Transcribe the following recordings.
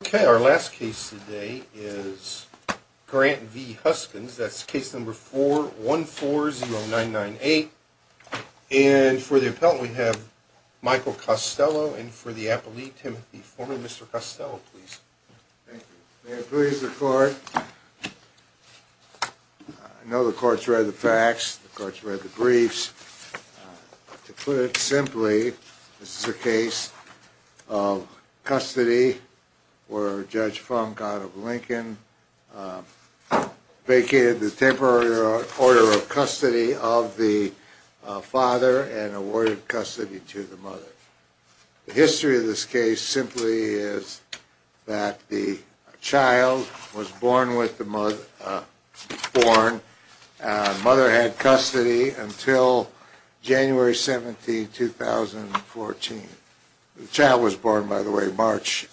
Okay, our last case today is Grant v. Huskins. That's case number 4140998. And for the appellant, we have Michael Costello. And for the appellee, Timothy Foreman. Mr. Costello, please. Thank you. May it please the Court. I know the Court's read the facts. The Court's read the briefs. To put it simply, this is a case of custody where Judge Funk out of Lincoln vacated the temporary order of custody of the father and awarded custody to the mother. The history of this case simply is that the child was born with the mother, born, and the mother had custody until January 17, 2014. The child was born, by the way, March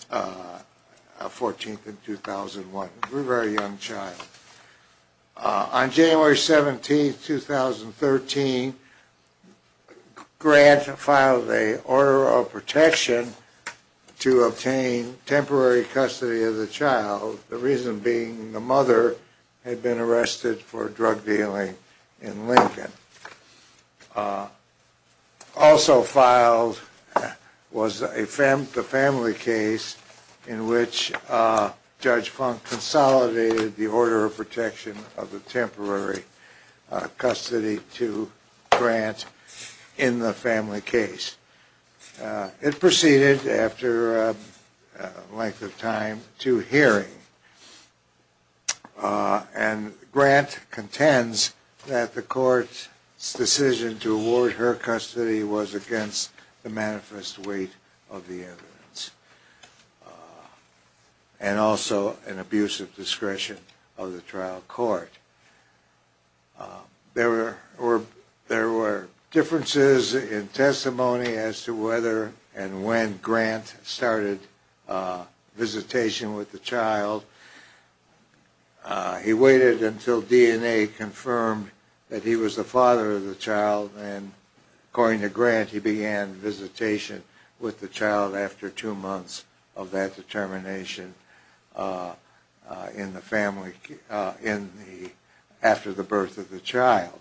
14, 2001. A very young child. On January 17, 2013, Grant filed a order of protection to obtain temporary custody of the child, the reason being the mother had been arrested for drug dealing in Lincoln. Also filed was the family case in which Judge Funk consolidated the order of protection of the temporary custody to Grant in the family case. It proceeded after a length of time to hearing, and Grant contends that the Court's decision to award her custody was against the manifest weight of the evidence, and also an abuse of discretion of the trial court. There were differences in testimony as to whether and when Grant started visitation with the child. He waited until DNA confirmed that he was the father of the child, and according to Grant, he began visitation with the child after two months of that determination after the birth of the child.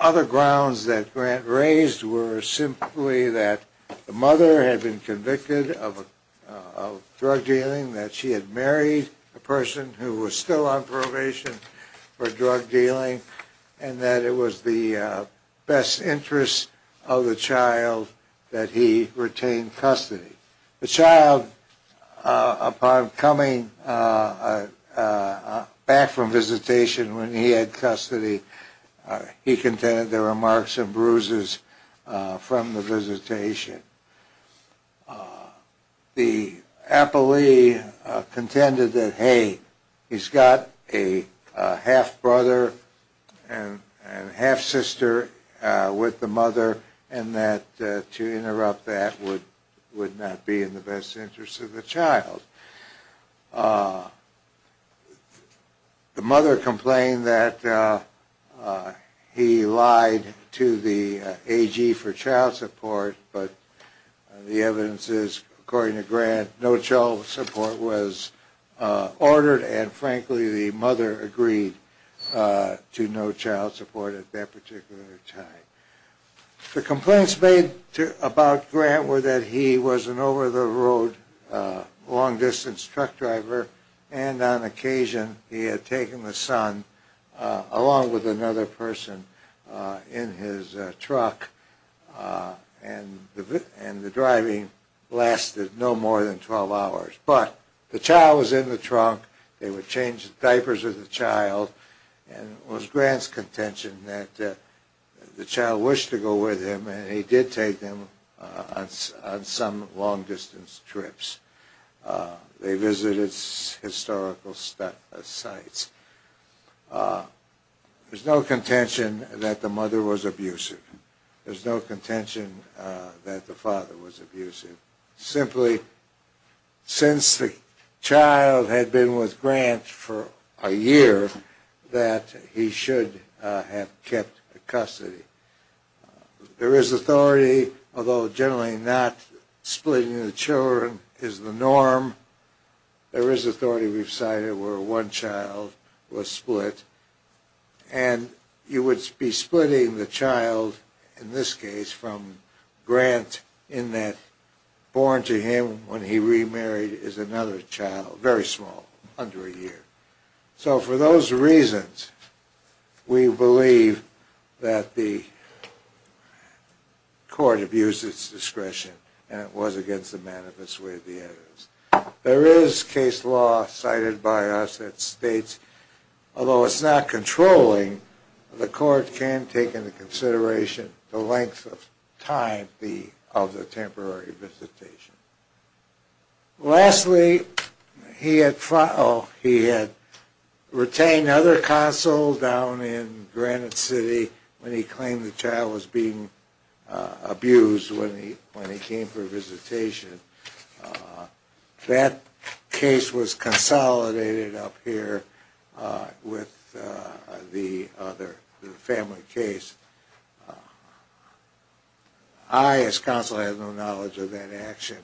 Other grounds that Grant raised were simply that the mother had been convicted of drug dealing, that she had married a person who was still on probation for drug dealing, and that it was the best interest of the child that he retain custody. The child, upon coming back from visitation when he had custody, he contended there were marks and bruises from the visitation. The appellee contended that, hey, he's got a half-brother and half-sister with the mother, and that to interrupt that would not be in the best interest of the child. The mother complained that he lied to the AG for child support, but the evidence is, according to Grant, no child support was ordered, and frankly, the mother agreed to no child support at that particular time. The complaints made about Grant were that he was an over-the-road, long-distance truck driver, and on occasion he had taken the son along with another person in his truck, and the driving lasted no more than 12 hours. But the child was in the trunk, they would change the diapers of the child, and it was Grant's contention that the child wished to go with him, and he did take them on some long-distance trips. They visited historical sites. There's no contention that the mother was abusive. There's no contention that the father was abusive. Simply, since the child had been with Grant for a year, that he should have kept custody. There is authority, although generally not splitting the children is the norm. There is authority, we've cited, where one child was split, and you would be splitting the child, in this case, from Grant in that born to him when he remarried is another child, very small, under a year. So for those reasons, we believe that the court abused its discretion, and it was against the manifest way of the evidence. There is case law cited by us that states, although it's not controlling, the court can take into consideration the length of time of the temporary visitation. Lastly, he had retained other counsel down in Granite City when he claimed the child was being abused when he came for visitation. That case was consolidated up here with the other family case. I, as counsel, had no knowledge of that action,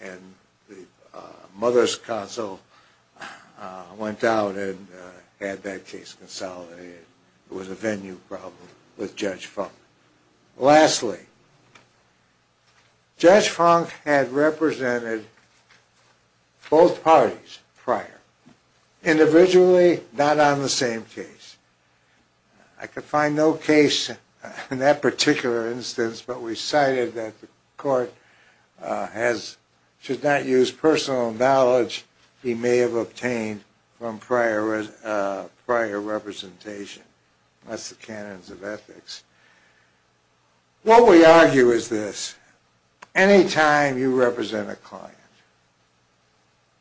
and the mother's counsel went out and had that case consolidated. It was a venue problem with Judge Funk. Lastly, Judge Funk had represented both parties prior, individually, not on the same case. I could find no case in that particular instance, but we cited that the court should not use personal knowledge he may have obtained from prior representation. That's the canons of ethics. What we argue is this. Anytime you represent a client,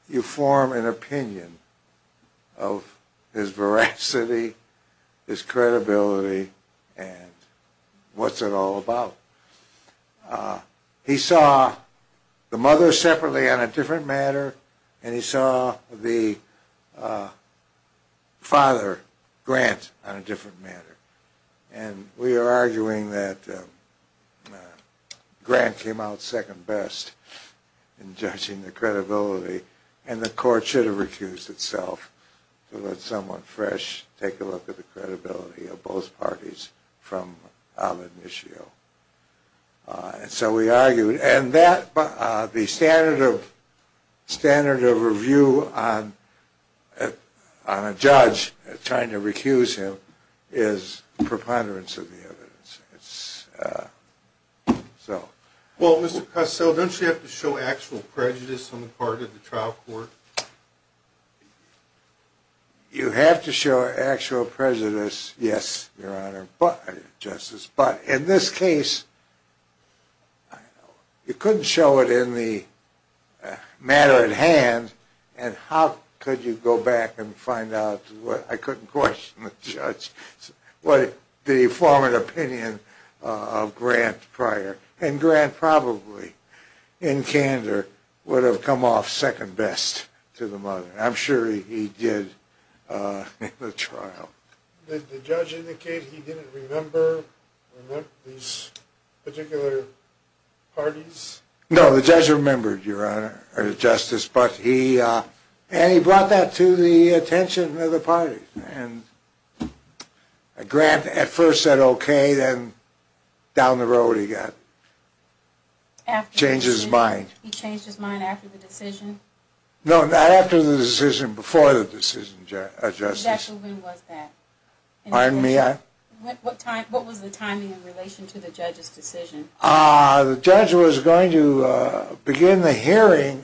you form an opinion of his veracity, his credibility, and what's it all about. He saw the mother separately on a different matter, and he saw the father, Grant, on a different matter. We are arguing that Grant came out second best in judging the credibility, and the court should have refused itself to let someone fresh take a look at the credibility of both parties from Al Inisio. So we argued, and the standard of review on a judge trying to recuse him is preponderance of the evidence. Well, Mr. Cusill, don't you have to show actual prejudice on the part of the trial court? You have to show actual prejudice, yes, Your Honor, Justice. But in this case, you couldn't show it in the matter at hand, and how could you go back and find out? I couldn't question the judge. Did he form an opinion of Grant prior? And Grant probably, in candor, would have come off second best to the mother. I'm sure he did in the trial. Did the judge indicate he didn't remember these particular parties? No, the judge remembered, Your Honor, Justice, and he brought that to the attention of the parties. Grant at first said okay, then down the road he got. After the decision? Changed his mind. He changed his mind after the decision? No, not after the decision, before the decision, Justice. Exactly when was that? Pardon me? What was the timing in relation to the judge's decision? The judge was going to begin the hearing.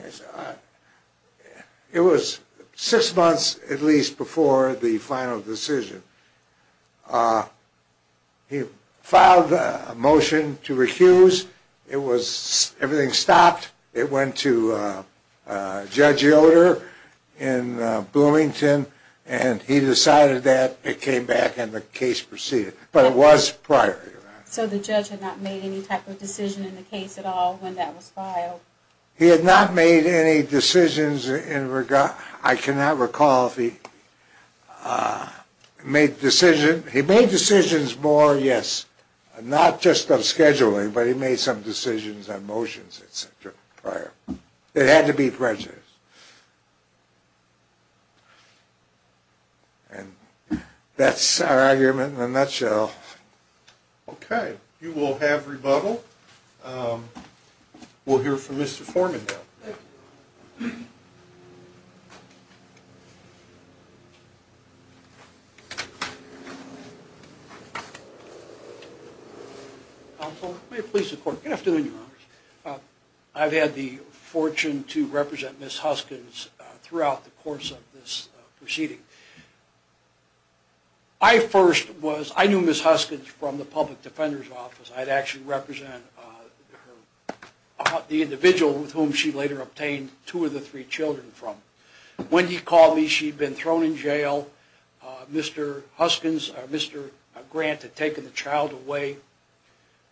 It was six months at least before the final decision. He filed a motion to recuse. It was, everything stopped. It went to Judge Yoder in Bloomington, and he decided that it came back and the case proceeded. But it was prior, Your Honor. So the judge had not made any type of decision in the case at all when that was filed? He had not made any decisions in regard, I cannot recall if he made decisions, he made decisions more, yes. Not just on scheduling, but he made some decisions on motions, et cetera, prior. It had to be prejudice. And that's our argument in a nutshell. Okay. You will have rebuttal. We'll hear from Mr. Foreman now. Thank you, Your Honor. Counsel, may it please the Court. Good afternoon, Your Honor. I've had the fortune to represent Ms. Huskins throughout the course of this proceeding. I first was, I knew Ms. Huskins from the public defender's office. I'd actually represent the individual with whom she later obtained two of the three children from. When he called me, she'd been thrown in jail. Mr. Huskins, Mr. Grant had taken the child away.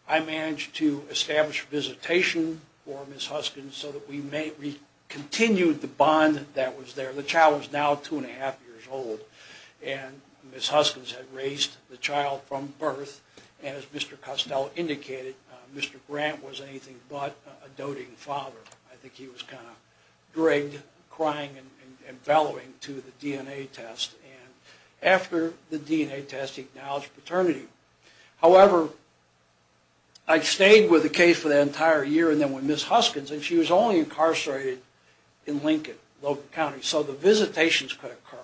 I managed to establish visitation for Ms. Huskins so that we continued the bond that was there. The child was now two and a half years old. And Ms. Huskins had raised the child from birth. And as Mr. Costello indicated, Mr. Grant was anything but a doting father. I think he was kind of dragged, crying and bellowing to the DNA test. And after the DNA test, he acknowledged paternity. However, I'd stayed with the case for that entire year. And then with Ms. Huskins, and she was only incarcerated in Lincoln, local county. So the visitations could occur.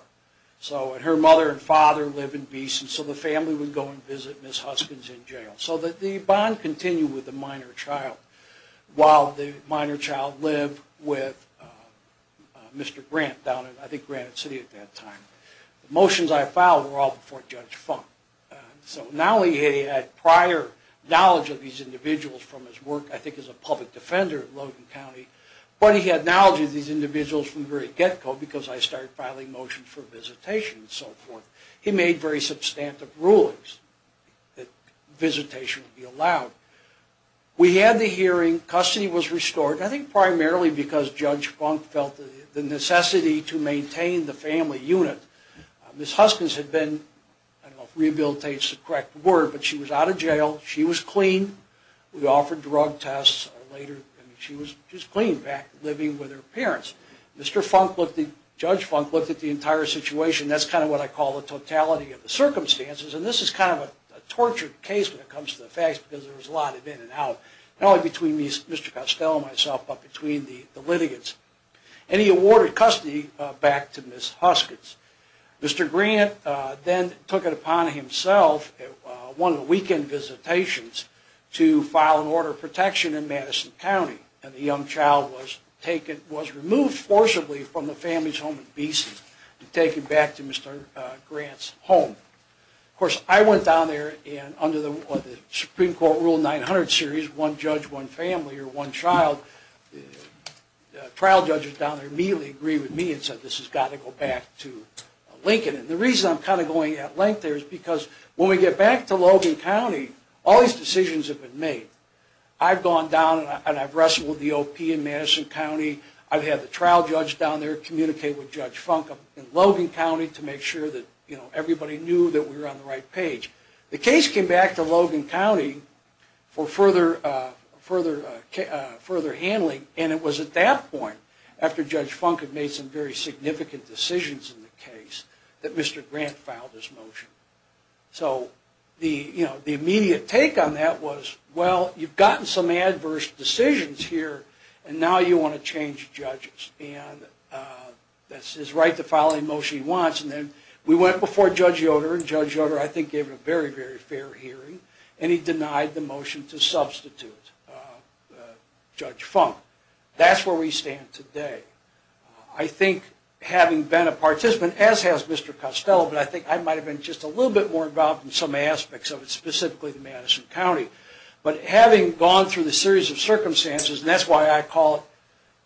So her mother and father live in Beeson. So the family would go and visit Ms. Huskins in jail. So the bond continued with the minor child. While the minor child lived with Mr. Grant down in, I think, Granite City at that time. The motions I filed were all before Judge Funk. So now he had prior knowledge of these individuals from his work, I think, as a public defender in Logan County. But he had knowledge of these individuals from the very get-go, because I started filing motions for visitation and so forth. He made very substantive rulings that visitation would be allowed. We had the hearing. Custody was restored. I think primarily because Judge Funk felt the necessity to maintain the family unit. Ms. Huskins had been, I don't know if rehabilitate is the correct word, but she was out of jail. She was clean. We offered drug tests later, and she was clean back living with her parents. Judge Funk looked at the entire situation. That's kind of what I call the totality of the circumstances. And this is kind of a tortured case when it comes to the facts, because there was a lot of in and out, not only between Mr. Costello and myself, but between the litigants. And he awarded custody back to Ms. Huskins. Mr. Grant then took it upon himself at one of the weekend visitations to file an order of protection in Madison County. And the young child was removed forcibly from the family's home in B.C. and taken back to Mr. Grant's home. Of course, I went down there, and under the Supreme Court Rule 900 series, one judge, one family, or one child, trial judges down there immediately agreed with me and said this has got to go back to Lincoln. And the reason I'm kind of going at length there is because when we get back to Logan County, all these decisions have been made. I've gone down and I've wrestled with the O.P. in Madison County. I've had the trial judge down there communicate with Judge Funk in Logan County to make sure that everybody knew that we were on the right page. The case came back to Logan County for further handling, and it was at that point, after Judge Funk had made some very significant decisions in the case, that Mr. Grant filed his motion. So the immediate take on that was, well, you've gotten some adverse decisions here, and now you want to change judges. And that's his right to file any motion he wants. And then we went before Judge Yoder, and Judge Yoder I think gave a very, very fair hearing, and he denied the motion to substitute Judge Funk. That's where we stand today. I think having been a participant, as has Mr. Costello, but I think I might have been just a little bit more involved in some aspects of it, specifically in Madison County. But having gone through the series of circumstances, and that's why I call it,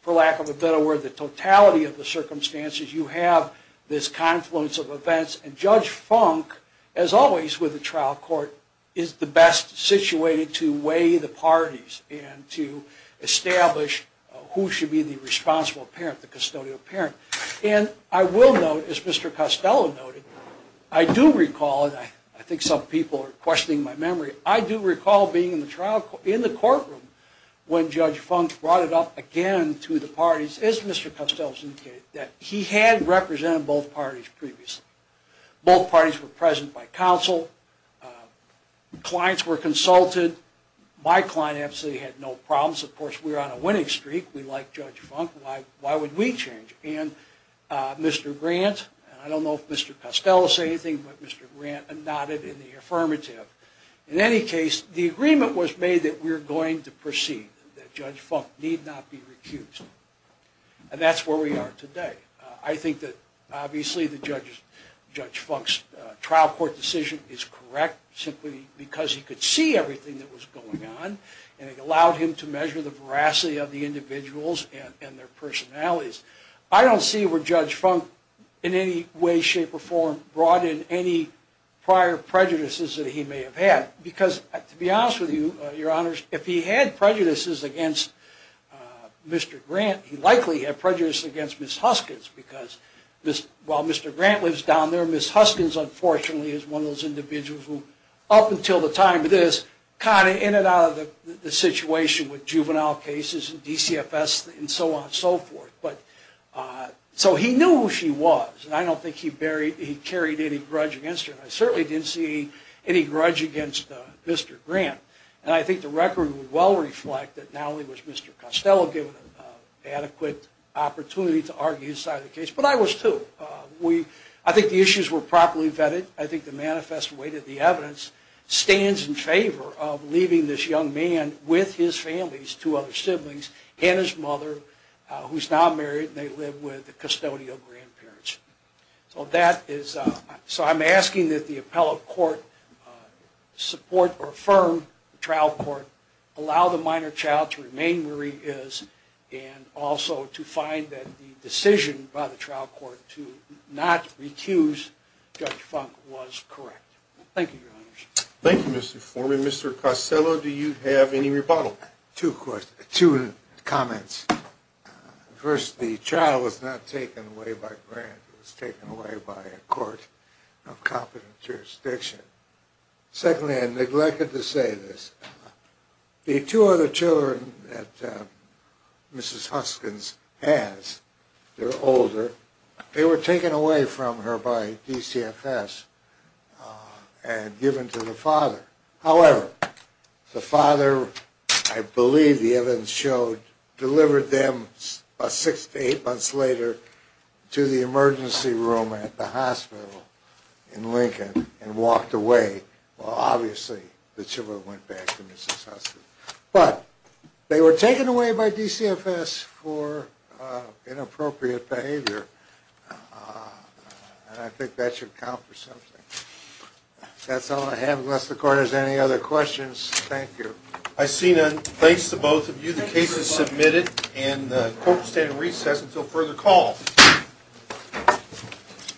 for lack of a better word, the totality of the circumstances, you have this confluence of events. And Judge Funk, as always with a trial court, is the best situated to weigh the parties and to establish who should be the responsible parent, the custodial parent. And I will note, as Mr. Costello noted, I do recall, and I think some people are questioning my memory, I do recall being in the courtroom when Judge Funk brought it up again to the parties, as Mr. Costello indicated, that he had represented both parties previously. Both parties were present by counsel. Clients were consulted. My client absolutely had no problems. Of course, we were on a winning streak. We liked Judge Funk. Why would we change? And Mr. Grant, and I don't know if Mr. Costello will say anything, but Mr. Grant nodded in the affirmative. In any case, the agreement was made that we were going to proceed, that Judge Funk need not be recused. And that's where we are today. I think that, obviously, Judge Funk's trial court decision is correct, simply because he could see everything that was going on, and it allowed him to measure the veracity of the individuals and their personalities. I don't see where Judge Funk, in any way, shape, or form, brought in any prior prejudices that he may have had, because, to be honest with you, Your Honors, if he had prejudices against Mr. Grant, he likely had prejudices against Ms. Huskins, because while Mr. Grant lives down there, Ms. Huskins, unfortunately, is one of those individuals who, up until the time of this, kind of in and out of the situation with juvenile cases and DCFS and so on and so forth. So he knew who she was, and I don't think he carried any grudge against her. I certainly didn't see any grudge against Mr. Grant. And I think the record would well reflect that not only was Mr. Costello given an adequate opportunity to argue his side of the case, but I was too. I think the issues were properly vetted. I think the manifest weight of the evidence stands in favor of leaving this young man with his family, his two other siblings, and his mother, who's now married, and they live with the custodial grandparents. So I'm asking that the appellate court support or affirm the trial court, allow the minor child to remain where he is, and also to find that the decision by the trial court to not recuse Judge Funk was correct. Thank you, Your Honors. Thank you, Mr. Foreman. Mr. Costello, do you have any rebuttal? Two comments. First, the child was not taken away by Grant. It was taken away by a court of competent jurisdiction. Secondly, I neglected to say this. The two other children that Mrs. Huskins has, they're older, they were taken away from her by DCFS and given to the father. However, the father, I believe the evidence showed, delivered them about six to eight months later to the emergency room at the hospital in Lincoln and walked away. Well, obviously, the children went back to Mrs. Huskins. But they were taken away by DCFS for inappropriate behavior, and I think that should count for something. That's all I have. Unless the court has any other questions, thank you. I see none. Thanks to both of you. The case is submitted, and the court will stand in recess until further call.